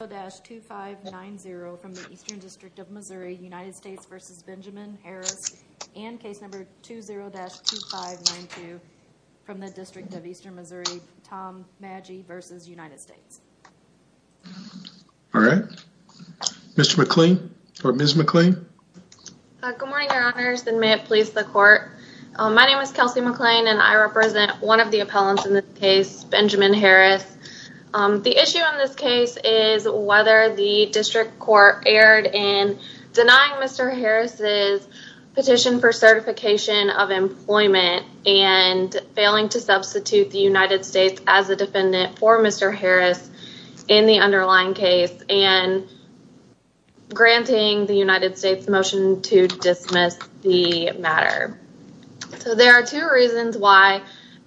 and case number 20-2592 from the District of Eastern Missouri, Tom Magee v. United States. All right. Ms. McLean? Good morning, Your Honors, and may it please the Court. My name is Kelsey McLean, and I represent one of the appellants in this case, Benjamin Harris. The issue in this case is whether the District Court erred in denying Mr. Harris' petition for certification of employment and failing to substitute the United States as a defendant for Mr. Harris in the underlying case and granting the United States' motion to dismiss the matter. So there are two reasons why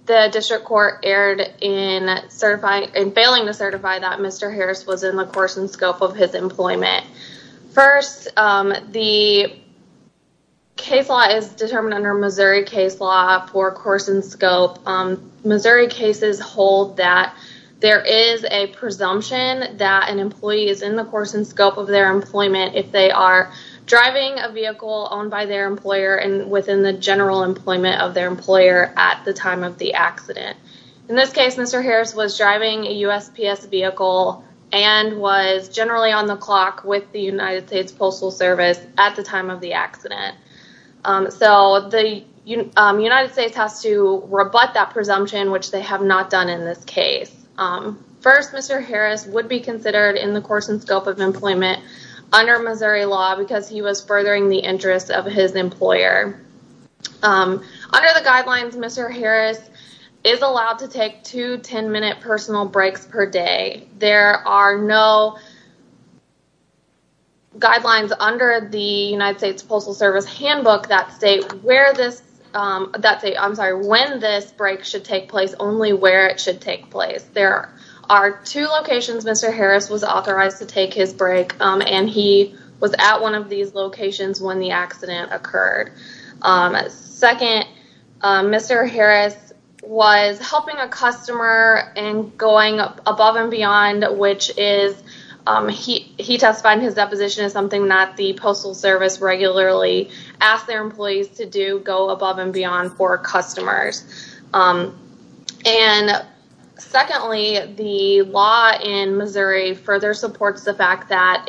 the District Court erred in failing to certify that Mr. Harris was in the course and scope of his employment. First, the case law is determined under Missouri case law for course and scope. Missouri cases hold that there is a presumption that an employee is in the course and scope of their employment if they are driving a vehicle owned by their employer and within the general employment of their employer at the time of the accident. In this case, Mr. Harris was driving a USPS vehicle and was generally on the clock with the United States Postal Service at the time of the accident. So the United States has to rebut that presumption, which they have not done in this case. First, Mr. Harris would be considered in the course and scope of employment under Missouri law because he was furthering the interest of his employer. Under the guidelines, Mr. Harris is allowed to take two 10-minute personal breaks per day. There are no guidelines under the United States Postal Service handbook that state when this break should take place, only where it should take place. There are two locations Mr. Harris was authorized to take his break, and he was at one of these locations when the accident occurred. Second, Mr. Harris was helping a customer in going above and beyond, which he testified in his deposition is something that the Postal Service regularly asks their employees to do, go above and beyond for customers. And secondly, the law in Missouri further supports the fact that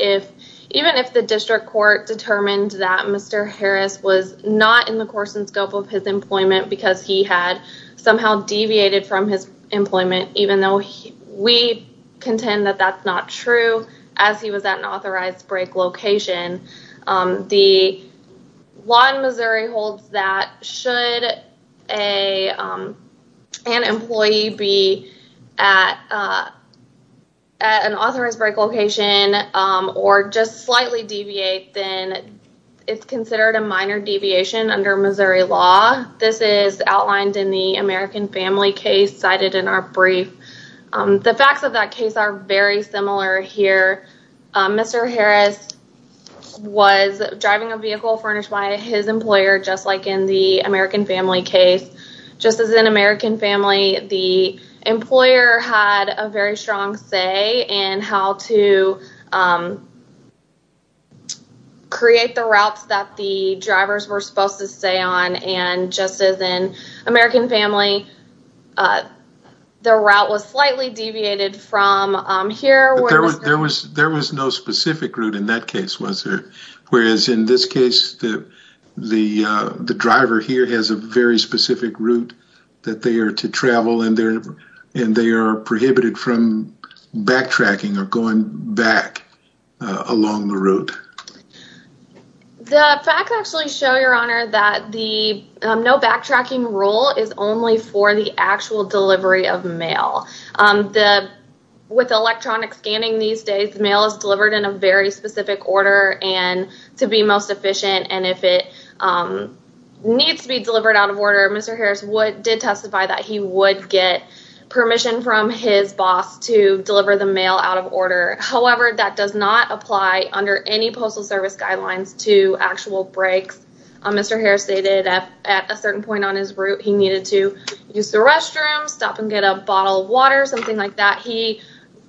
even if the district court determined that Mr. Harris was not in the course and scope of his employment because he had somehow deviated from his employment, even though we contend that that's not true, as he was at an authorized break location, the law in Missouri states that should an employee be at an authorized break location or just slightly deviate, then it's considered a minor deviation under Missouri law. This is outlined in the American Family case cited in our brief. The facts of that case are very similar here. Mr. Harris was driving a vehicle furnished by his employer, just like in the American Family case. Just as in American Family, the employer had a very strong say in how to create the routes that the drivers were supposed to stay on, and just as in American Family, the route was slightly deviated from here. There was no specific route in that case, was there? Whereas in this case, the driver here has a very specific route that they are to travel and they are prohibited from backtracking or going back along the route. The facts actually show, Your Honor, that the no backtracking rule is only for the actual delivery of mail. With electronic scanning these days, mail is delivered in a very specific order and to be most efficient, and if it needs to be delivered out of order, Mr. Harris did testify that he would get permission from his boss to deliver the mail out of order. However, that does not apply under any Postal Service guidelines to actual breaks. Mr. Harris stated that at a certain point on his route, he needed to use the restroom, stop and get a bottle of water, something like that. He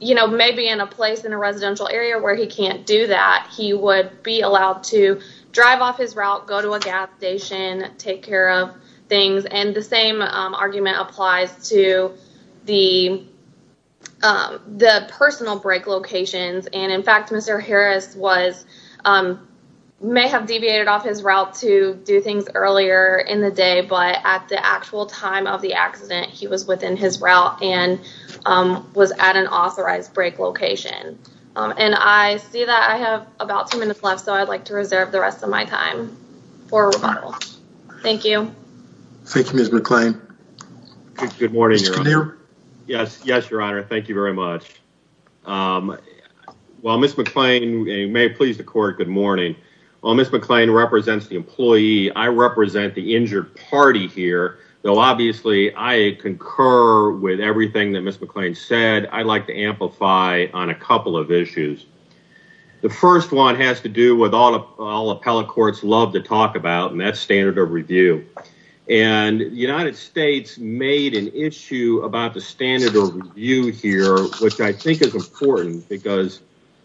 may be in a place in a residential area where he can't do that. He would be allowed to drive off his route, go to a gas station, take care of things, and the same Mr. Harris may have deviated off his route to do things earlier in the day, but at the actual time of the accident, he was within his route and was at an authorized break location. I see that I have about two minutes left, so I'd like to reserve the rest of my time for rebuttal. Thank you. Thank you, Ms. McClain. Good morning, Your Honor. Yes, Your Honor, thank you very much. While Ms. McClain, and you may please the court, good morning. While Ms. McClain represents the employee, I represent the injured party here, though obviously I concur with everything that Ms. McClain said. I'd like to amplify on a couple of issues. The first one has to do with all appellate courts love to talk about, and that's standard of review. And the United States made an standard of review here, which I think is important, because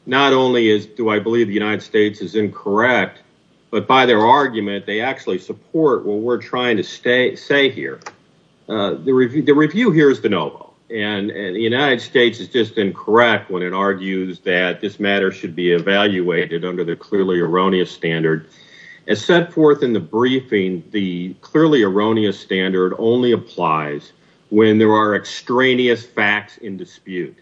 not only do I believe the United States is incorrect, but by their argument, they actually support what we're trying to say here. The review here is de novo, and the United States is just incorrect when it argues that this matter should be evaluated under the clearly erroneous standard. As set forth in the briefing, the clearly erroneous standard only applies when there are extraneous facts in dispute.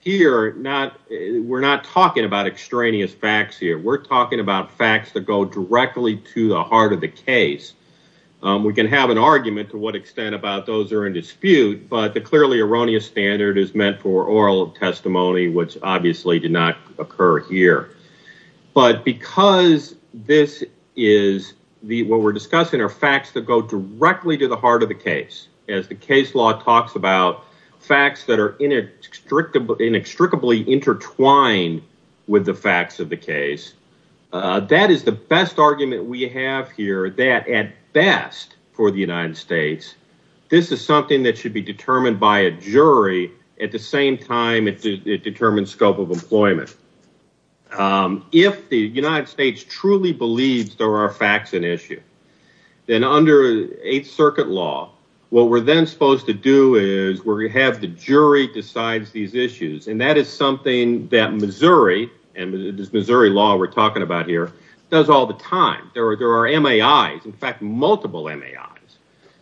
Here, we're not talking about extraneous facts here. We're talking about facts that go directly to the heart of the case. We can have an argument to what extent about those are in dispute, but the clearly erroneous standard is meant for oral testimony, which obviously did not occur here. But because this is what we're discussing are facts that go directly to the heart of the case, as the case law talks about facts that are inextricably intertwined with the facts of the case, that is the best argument we have here that at best for the United States, this is something that should be determined by a jury. At the same time, it determines scope of employment. If the United States truly believes there are facts in issue, then under Eighth Circuit law, what we're then supposed to do is we're going to have the jury decides these issues, and that is something that Missouri, and this Missouri law we're talking about here, does all the time. There are MAIs, in fact, multiple MAIs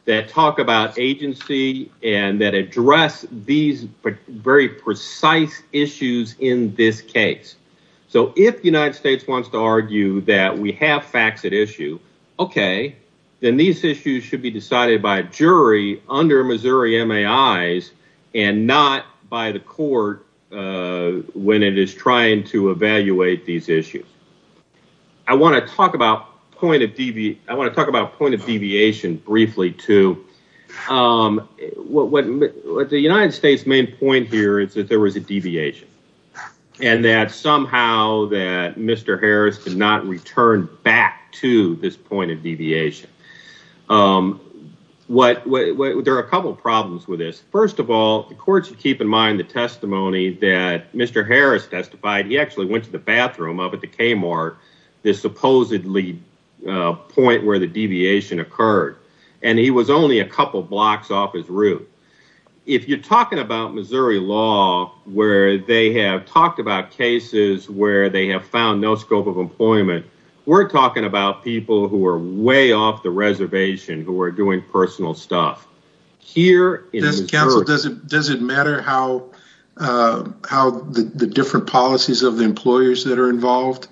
that talk about agency and that United States wants to argue that we have facts at issue, okay, then these issues should be decided by a jury under Missouri MAIs and not by the court when it is trying to evaluate these issues. I want to talk about point of deviation briefly, too. The United States' main point here is that there was a deviation, and that somehow that Mr. Harris did not return back to this point of deviation. There are a couple of problems with this. First of all, the court should keep in mind the testimony that Mr. Harris testified. He actually went to the bathroom up at the Kmart, the supposedly point where the deviation occurred, and he was only a couple blocks off his route. If you're talking about Missouri law where they have talked about cases where they have found no scope of employment, we're talking about people who are way off the reservation who are doing personal stuff. Does it matter how the different policies of the employers that are involved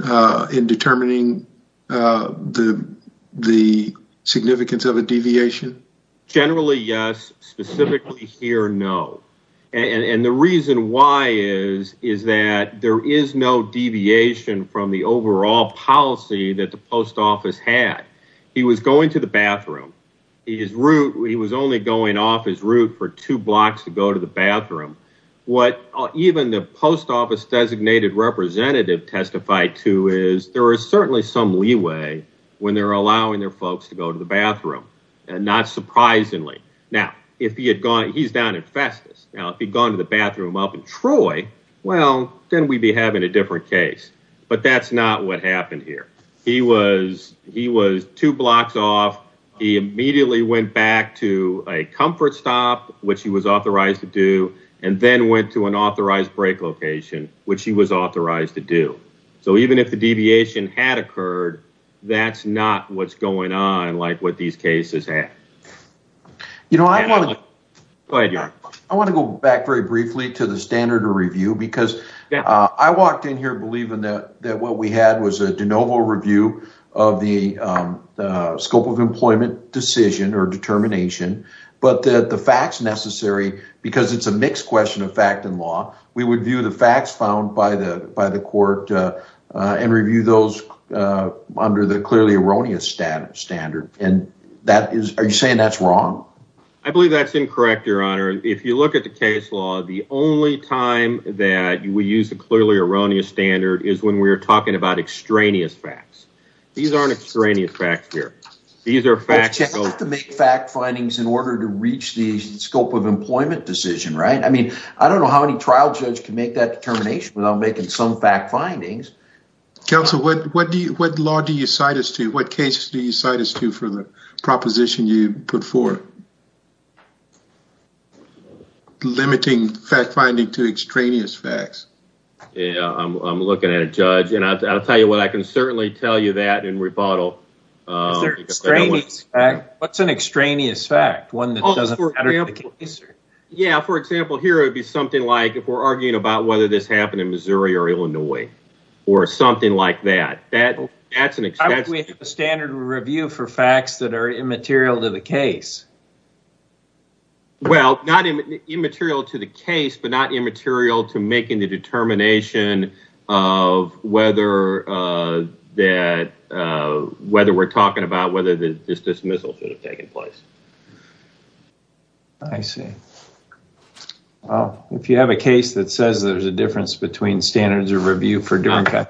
in determining the significance of a deviation? Generally, yes. Specifically here, no. And the reason why is that there is no deviation from the overall policy that the post office had. He was going to the bathroom. He was only going off his route for two blocks to go to the bathroom. What even the post office designated representative testified to is there is certainly some leeway when they're allowing their folks to go to the bathroom, and not surprisingly. Now, he's down in Festus. Now, if he'd gone to the bathroom up in Troy, well, then we'd be having a different case. But that's not what happened here. He was two blocks off. He immediately went back to a comfort stop, which he was authorized to do, and then went to an authorized break location, which he was authorized to do. So even if the deviation had occurred, that's not what's going on like what these cases have. I want to go back very briefly to the standard of review because I walked in here believing that what we had was a de novo review of the scope of employment decision or determination. But the facts necessary, because it's a mixed question of fact and law, we would view the facts found by the court and review those under the clearly erroneous standard. Are you saying that's wrong? I believe that's incorrect, your honor. If you look at the case law, the only time that we use a clearly erroneous standard is when we're talking about extraneous facts. These aren't extraneous facts here. These are facts. But you have to make fact findings in order to reach the scope of employment decision, right? I mean, I don't know how any trial judge can make that determination without making some fact findings. Counsel, what law do you cite us to? What cases do you cite us to for the proposition you put forth? Limiting fact finding to extraneous facts. Yeah, I'm looking at a judge. And I'll tell you what, I can certainly tell you that in rebuttal. What's an extraneous fact? One that doesn't matter to the case? Yeah, for example, here it would be something like if we're arguing about whether this happened in Missouri or Illinois or something like that. That's an extraneous fact. We have a standard review for facts that are immaterial to the case. Well, not immaterial to the case, but not immaterial to making the determination of whether we're talking about whether this dismissal should have taken place. I see. Well, if you have a case that says there's a difference between standards of the United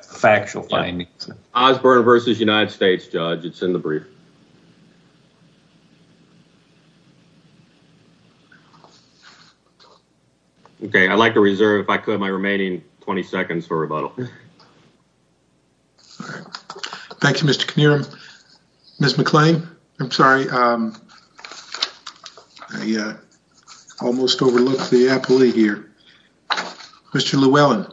States, judge, it's in the brief. Okay, I'd like to reserve, if I could, my remaining 20 seconds for rebuttal. All right. Thank you, Mr. Knierim. Ms. McClain, I'm sorry, I almost overlooked the appellee here. Mr. Llewellyn.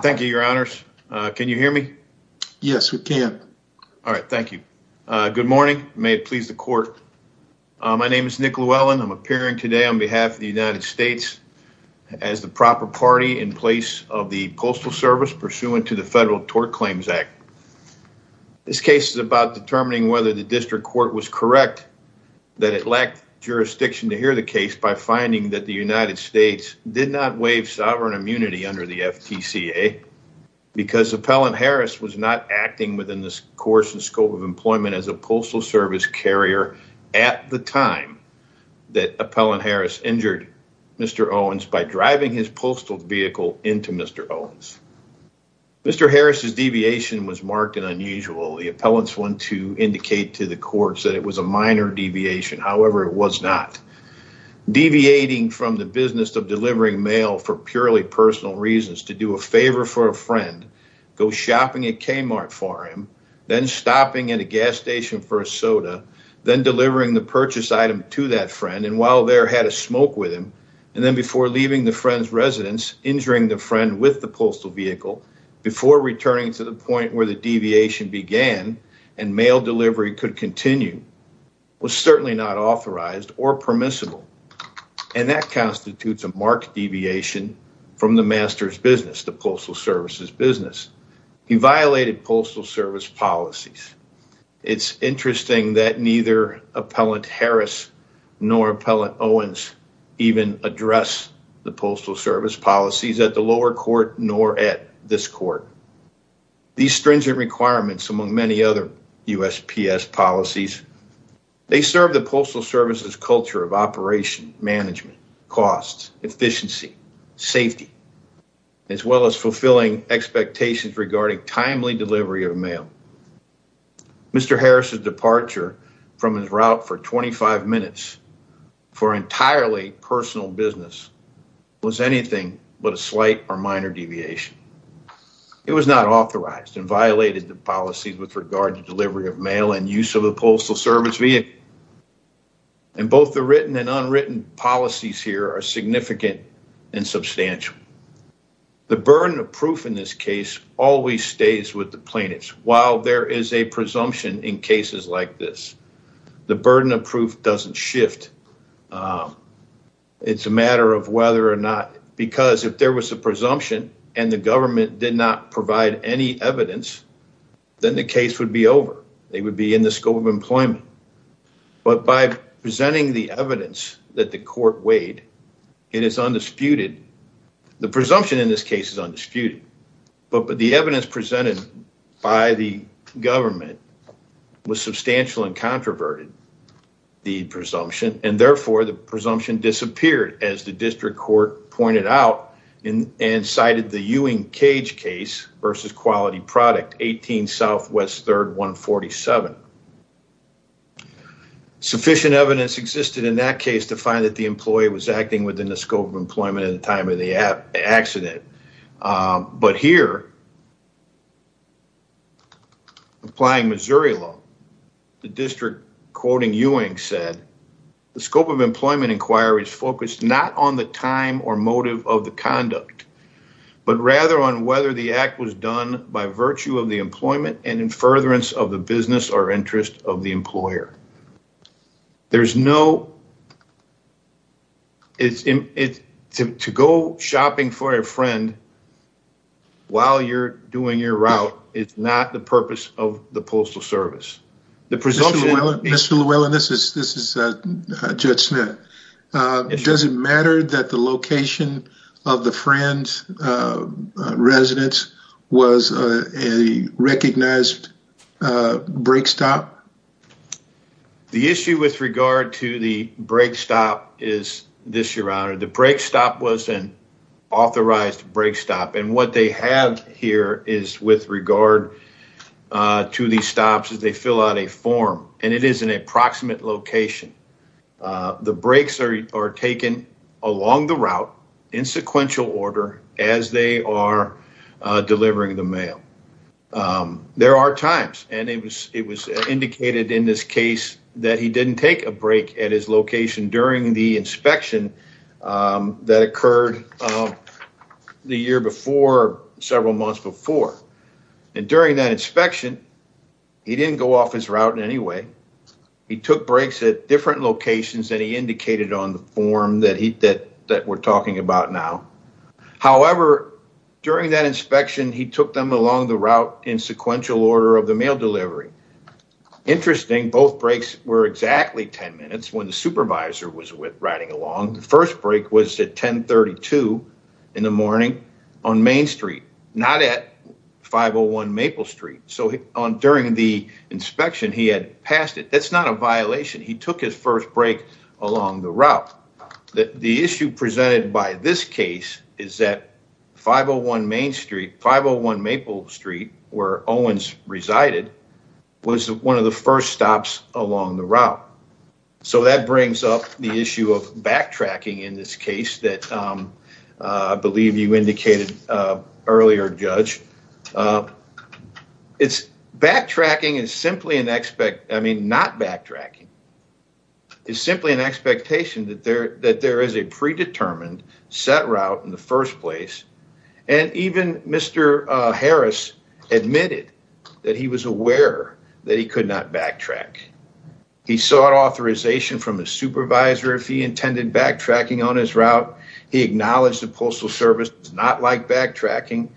Thank you, your honors. Can you hear me? Yes, we can. All right. Thank you. Good morning. May it please the court. My name is Nick Llewellyn. I'm appearing today on behalf of the United States as the proper party in place of the Postal Service pursuant to the Federal Tort Claims Act. This case is about determining whether the district court was correct that it lacked jurisdiction to hear the case by finding that the United States did not waive sovereign immunity under the FTCA because Appellant Harris was not acting within the course and scope of employment as a Postal Service carrier at the time that Appellant Harris injured Mr. Owens by driving his postal vehicle into Mr. Owens. Mr. Harris's deviation was marked and unusual. The appellants want to indicate to the courts that it was a minor deviation. However, it was not. Deviating from the business of delivering mail for purely personal reasons to do a favor for a friend, go shopping at Kmart for him, then stopping at a gas station for a soda, then delivering the purchase item to that friend, and while there had a smoke with him, and then before leaving the friend's residence, injuring the friend with the postal vehicle before returning to the point where the deviation began and mail delivery could continue was certainly not authorized or permissible. And that constitutes a marked deviation from the master's business, the Postal Service's business. He violated Postal Service policies. It's interesting that neither Appellant Harris nor Appellant Owens even address the Postal Service policies at the lower court nor at this court. These stringent requirements among many other USPS policies, they serve the Postal Management, costs, efficiency, safety, as well as fulfilling expectations regarding timely delivery of mail. Mr. Harris's departure from his route for 25 minutes for entirely personal business was anything but a slight or minor deviation. It was not authorized and violated the policies with regard to delivery of mail and use of the Postal Service vehicle. And both the written and unwritten policies here are significant and substantial. The burden of proof in this case always stays with the plaintiffs. While there is a presumption in cases like this, the burden of proof doesn't shift. It's a matter of whether or not, because if there was a presumption and the government did not provide any evidence, then the case would be over. They would be in the scope of employment. But by presenting the evidence that the court weighed, it is undisputed. The presumption in this case is undisputed. But the evidence presented by the government was substantial and controverted, the presumption, and therefore the presumption disappeared, as the district court pointed out and cited the Ewing Cage case versus Quality Product, 18 Southwest 3rd 147. Sufficient evidence existed in that case to find that the employee was acting within the scope of employment at the time of the accident. But here, applying Missouri law, the district, quoting Ewing, said, the scope of employment inquiry is focused not on the time or motive of the conduct, but rather on whether the act was done by virtue of the employment and in furtherance of the business or interest of the employer. To go shopping for a friend while you're doing your route is not the purpose of the Postal Service. The presumption... Mr. Llewellyn, this is Judge Smith. Does it matter that the location of the friend's residence was a recognized brake stop? The issue with regard to the brake stop is this, Your Honor. The brake stop was an form, and it is in an approximate location. The brakes are taken along the route in sequential order as they are delivering the mail. There are times, and it was indicated in this case that he didn't take a brake at his location during the inspection that occurred the year before, several months before. And during that inspection, he didn't go off his route in any way. He took brakes at different locations than he indicated on the form that we're talking about now. However, during that inspection, he took them along the route in sequential order of the mail delivery. Interesting, both brakes were exactly 10 minutes when the supervisor was at 1032 in the morning on Main Street, not at 501 Maple Street. So during the inspection, he had passed it. That's not a violation. He took his first brake along the route. The issue presented by this case is that 501 Maple Street, where Owens resided, was one of the first stops along the route. So that brings up the issue of backtracking in this case that I believe you indicated earlier, Judge. Backtracking is simply not backtracking. It's simply an expectation that there is a predetermined set route in the first place. And even Mr. Harris admitted that he was aware that he could not backtrack. He sought authorization from the supervisor if he intended backtracking on his route. He acknowledged the Postal Service does not like backtracking.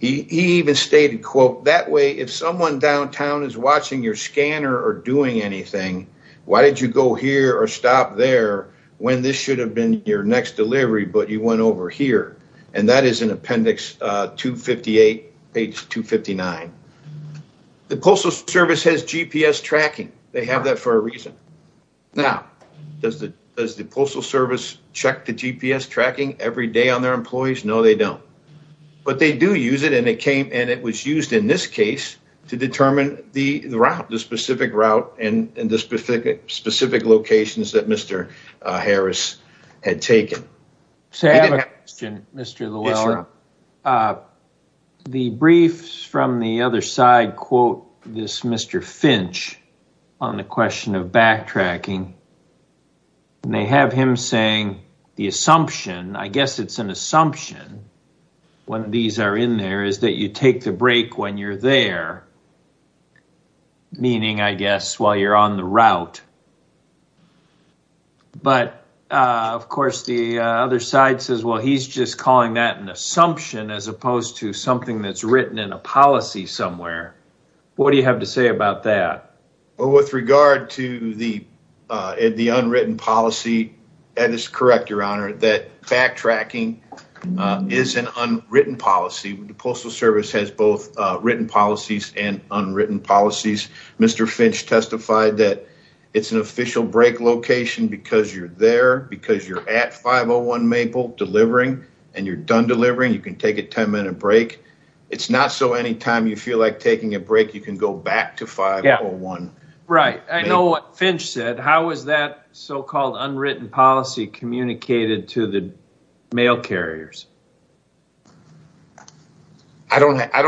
He even stated, quote, that way if someone downtown is watching your scanner or doing anything, why did you go here or stop there when this should have been your next delivery, but you went over here? And that is in appendix 258, page 259. The Postal Service has GPS tracking. They have that for a reason. Now, does the Postal Service check the GPS tracking every day on their employees? No, they don't. But they do use it, and it was used in this case to determine the route, the specific route and the specific locations that Mr. Harris had taken. So I have a question, Mr. Lowell. Sure. The briefs from the other side quote this Mr. Finch on the question of backtracking. They have him saying the assumption, I guess it's an assumption when these are in there, is that you take the break when you're there, meaning, I guess, while you're on the route. But, of course, the other side says, well, he's just calling that an assumption as opposed to something that's written in a policy somewhere. What do you have to say about that? Well, with regard to the unwritten policy, that is correct, Your Honor, that backtracking is an unwritten policy. The Postal Service has both written policies and unwritten policies. Mr. Finch testified that it's an official break location because you're there, because you're at 501 Maple delivering, and you're done delivering. You can take a 10-minute break. It's not so anytime you feel like taking a break, you can go back to 501. Right. I know what Finch said. How is that so-called unwritten policy communicated to the mail carriers, Your Honor? I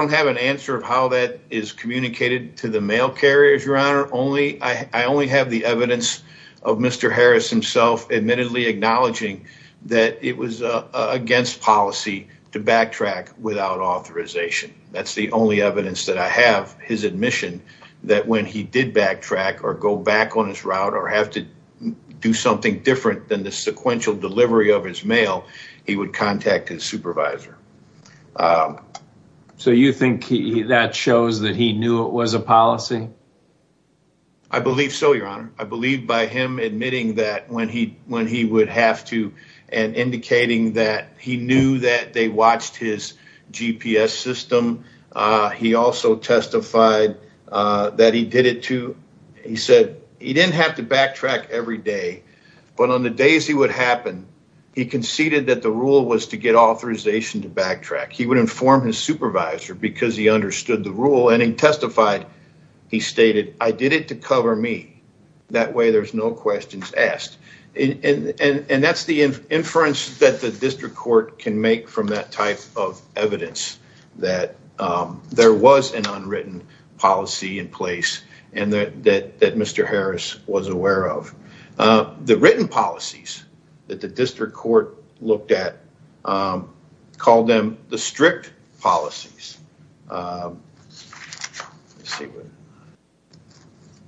only have the evidence of Mr. Harris himself admittedly acknowledging that it was against policy to backtrack without authorization. That's the only evidence that I have his admission that when he did backtrack or go back on his route or have to do something different than the sequential delivery of his mail, he would contact his supervisor. So you think that shows that he knew it was a policy? I believe so, Your Honor. I believe by him admitting that when he would have to and indicating that he knew that they watched his GPS system. He also testified that he did it too. He said he didn't have to backtrack every day, but on the days he would happen, he conceded that rule was to get authorization to backtrack. He would inform his supervisor because he understood the rule and he testified, he stated, I did it to cover me. That way there's no questions asked. And that's the inference that the district court can make from that type of evidence that there was an unwritten policy in place and that Mr. Harris was aware of. The written policies that the district court looked at called them the strict policies.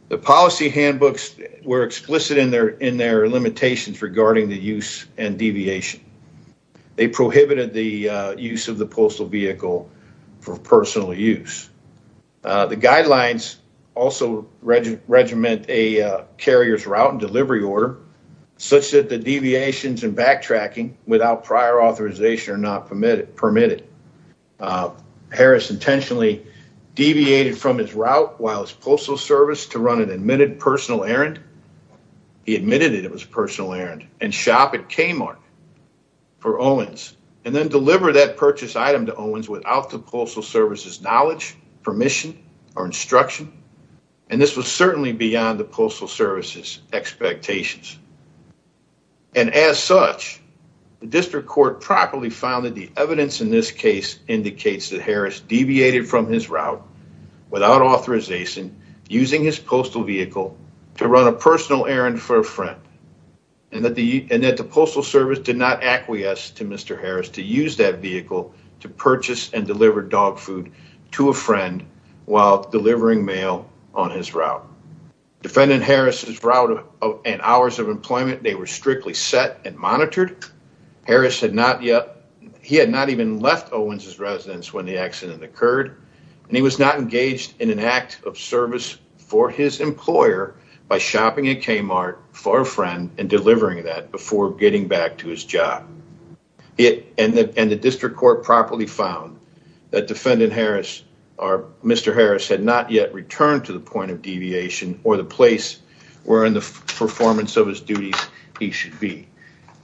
The policy handbooks were explicit in their limitations regarding the use and deviation. They prohibited the use of the postal vehicle for personal use. The guidelines also regiment a carrier's route and delivery order such that deviations and backtracking without prior authorization are not permitted. Harris intentionally deviated from his route while his postal service to run an admitted personal errand. He admitted it was a personal errand and shop at Kmart for Owens and then deliver that purchase item to Owens without the postal service's knowledge, permission, or instruction. And this was certainly beyond the postal service's expectations. And as such, the district court properly found that the evidence in this case indicates that Harris deviated from his route without authorization, using his postal vehicle to run a personal errand for a friend, and that the postal service did not acquiesce to Mr. Harris to use that vehicle to purchase and deliver dog food to a friend while delivering mail on his route. Defendant Harris's route and hours of employment, they were strictly set and monitored. Harris had not yet, he had not even left Owens's residence when the accident occurred, and he was not engaged in an act of service for his employer by shopping at Kmart for a friend and delivering that before getting back to his job. And the district court properly found that defendant Harris, Mr. Harris had not yet returned to the point of deviation or the place where in the performance of his duties he should be.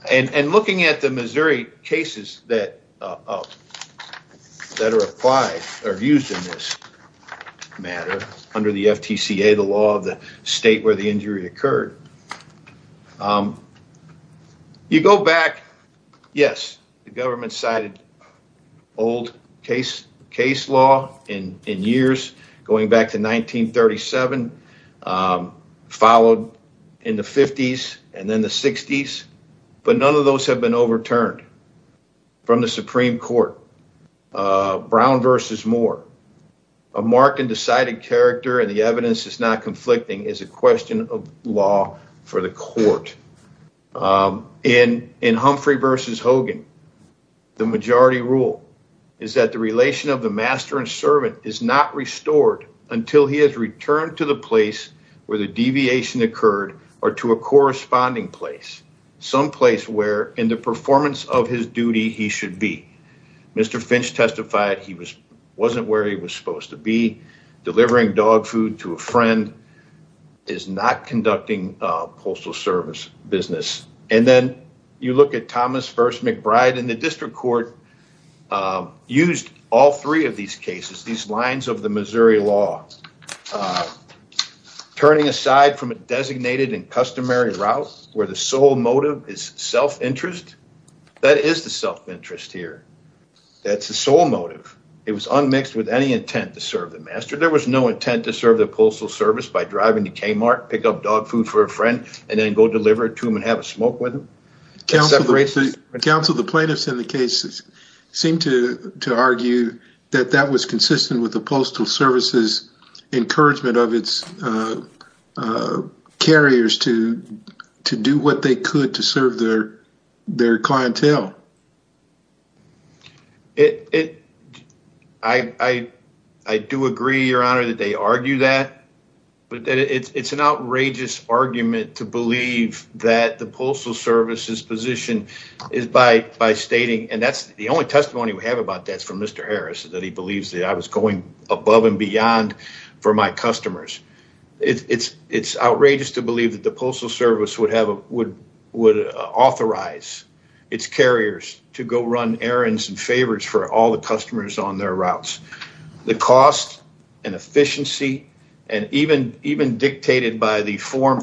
And looking at the Missouri cases that are used in this matter under the FTCA, the law of the state where the injury occurred, you go back, yes, the government cited old case law in years going back to 1937, followed in the 50s and then the 60s, but none of those have been overturned from the Supreme Court. Brown versus Moore, a mark and decided character and the evidence is not conflicting is a question of law for the court. In Humphrey versus Hogan, the majority rule is that the relation of the master and servant is not restored until he has returned to the place where the deviation occurred or to a corresponding place, someplace where in the performance of his duty he should be. Mr. Finch testified he wasn't where he was supposed to be, delivering dog food to a friend is not conducting postal service business. And then you look at Thomas versus McBride and the district court used all three of these cases, these lines of the Missouri law, turning aside from a designated and customary route where the motive is self-interest. That is the self-interest here. That's the sole motive. It was unmixed with any intent to serve the master. There was no intent to serve the postal service by driving to Kmart, pick up dog food for a friend, and then go deliver it to him and have a smoke with him. Counsel, the plaintiffs in the case seem to argue that that was consistent with the postal service's encouragement of its carriers to do what they could to serve their clientele. I do agree, your honor, that they argue that, but it's an outrageous argument to believe that the postal service's position is by stating, and that's the only testimony we have about that from Mr. Harris, that he believes that I was going above and beyond for my customers. It's outrageous to believe that the postal service would authorize its carriers to go run errands and favors for all the customers on their routes. The cost and efficiency and even dictated by the minutes and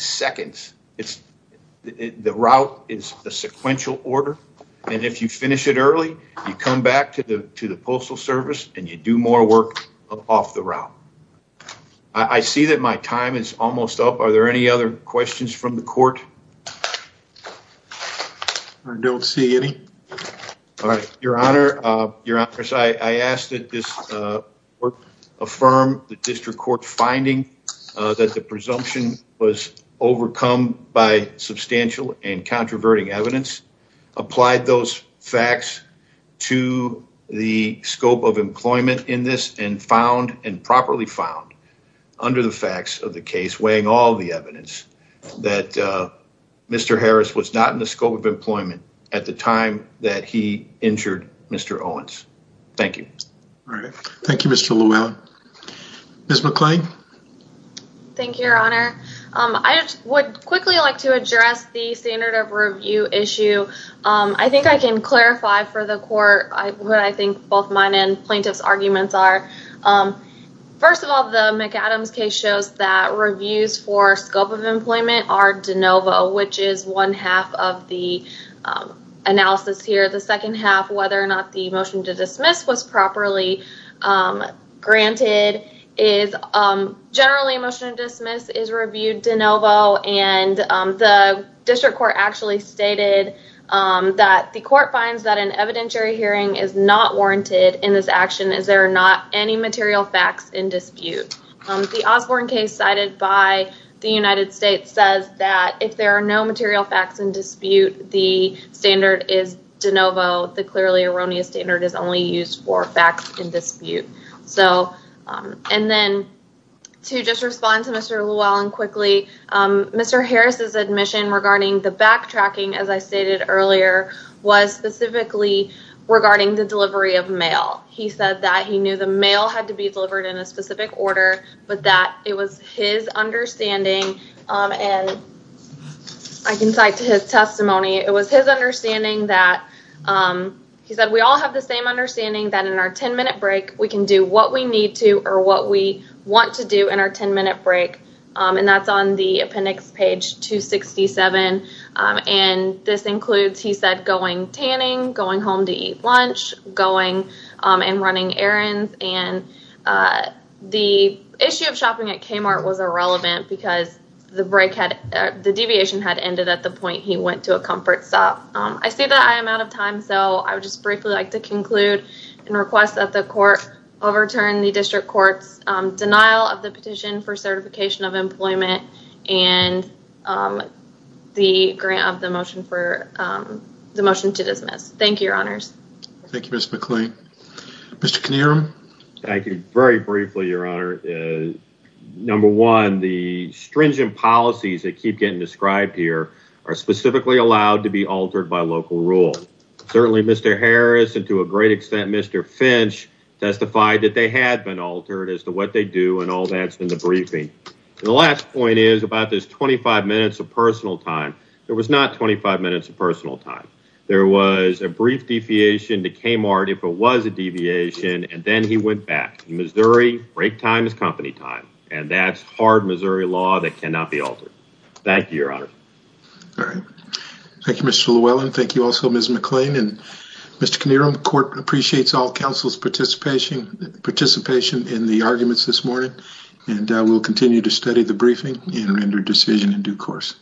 seconds, the route is a sequential order, and if you finish it early, you come back to the postal service and you do more work off the route. I see that my time is almost up. Are there any other questions from the court? I don't see any. All right, your honor, I ask that this affirm the district court's finding that the presumption was overcome by substantial and controverting evidence, applied those facts to the scope of employment in this, and found and properly found under the facts of the case, weighing all the evidence, that Mr. Harris was not in the scope of employment at the time that he injured Mr. Owens. Thank you. All right, thank you, Mr. Llewellyn. Ms. McClain? Thank you, your honor. I would quickly like to address the standard of review issue. I think I can clarify for the court what I think both mine and plaintiff's arguments are. First of all, the McAdams case shows that reviews for scope of employment are de novo, which is one half of the analysis here. The second half, whether or not the motion to granted is generally a motion to dismiss is reviewed de novo, and the district court actually stated that the court finds that an evidentiary hearing is not warranted in this action as there are not any material facts in dispute. The Osborne case cited by the United States says that if there are no material facts in dispute, the standard is de novo. The clearly erroneous standard is only used for facts in dispute. And then to just respond to Mr. Llewellyn quickly, Mr. Harris's admission regarding the backtracking, as I stated earlier, was specifically regarding the delivery of mail. He said that he knew the mail had to be delivered in a specific order, but that it was his understanding, and I can cite to his testimony, it was his understanding that, he said, we all have the same understanding that in our 10-minute break, we can do what we need to or what we want to do in our 10-minute break, and that's on the appendix page 267, and this includes, he said, going tanning, going home to eat lunch, going and running errands, and the issue of shopping at Kmart was irrelevant because the deviation had ended at the point he went to a comfort stop. I see that I am out of time, so I would just briefly like to conclude and request that the court overturn the district court's denial of the petition for certification of employment and the grant of the motion for the motion to dismiss. Thank you, your honors. Thank you, Ms. McLean. Mr. Knierim. Thank you. Very briefly, your honor. Number one, the stringent policies that keep getting described here are specifically allowed to be altered by local rule. Certainly, Mr. Harris and to a great extent, Mr. Finch testified that they had been altered as to what they do and all that's in the briefing, and the last point is about this 25 minutes of personal time. There was not 25 minutes of personal time. There was a brief deviation to Kmart if it was a deviation, and then he went back. Missouri break time is company time, and that's hard Missouri law that cannot be altered. Thank you, your honor. All right. Thank you, Mr. Llewellyn. Thank you also, Ms. McLean, and Mr. Knierim, the court appreciates all counsel's participation in the arguments this morning, and we'll continue to study the briefing and render decision in due course.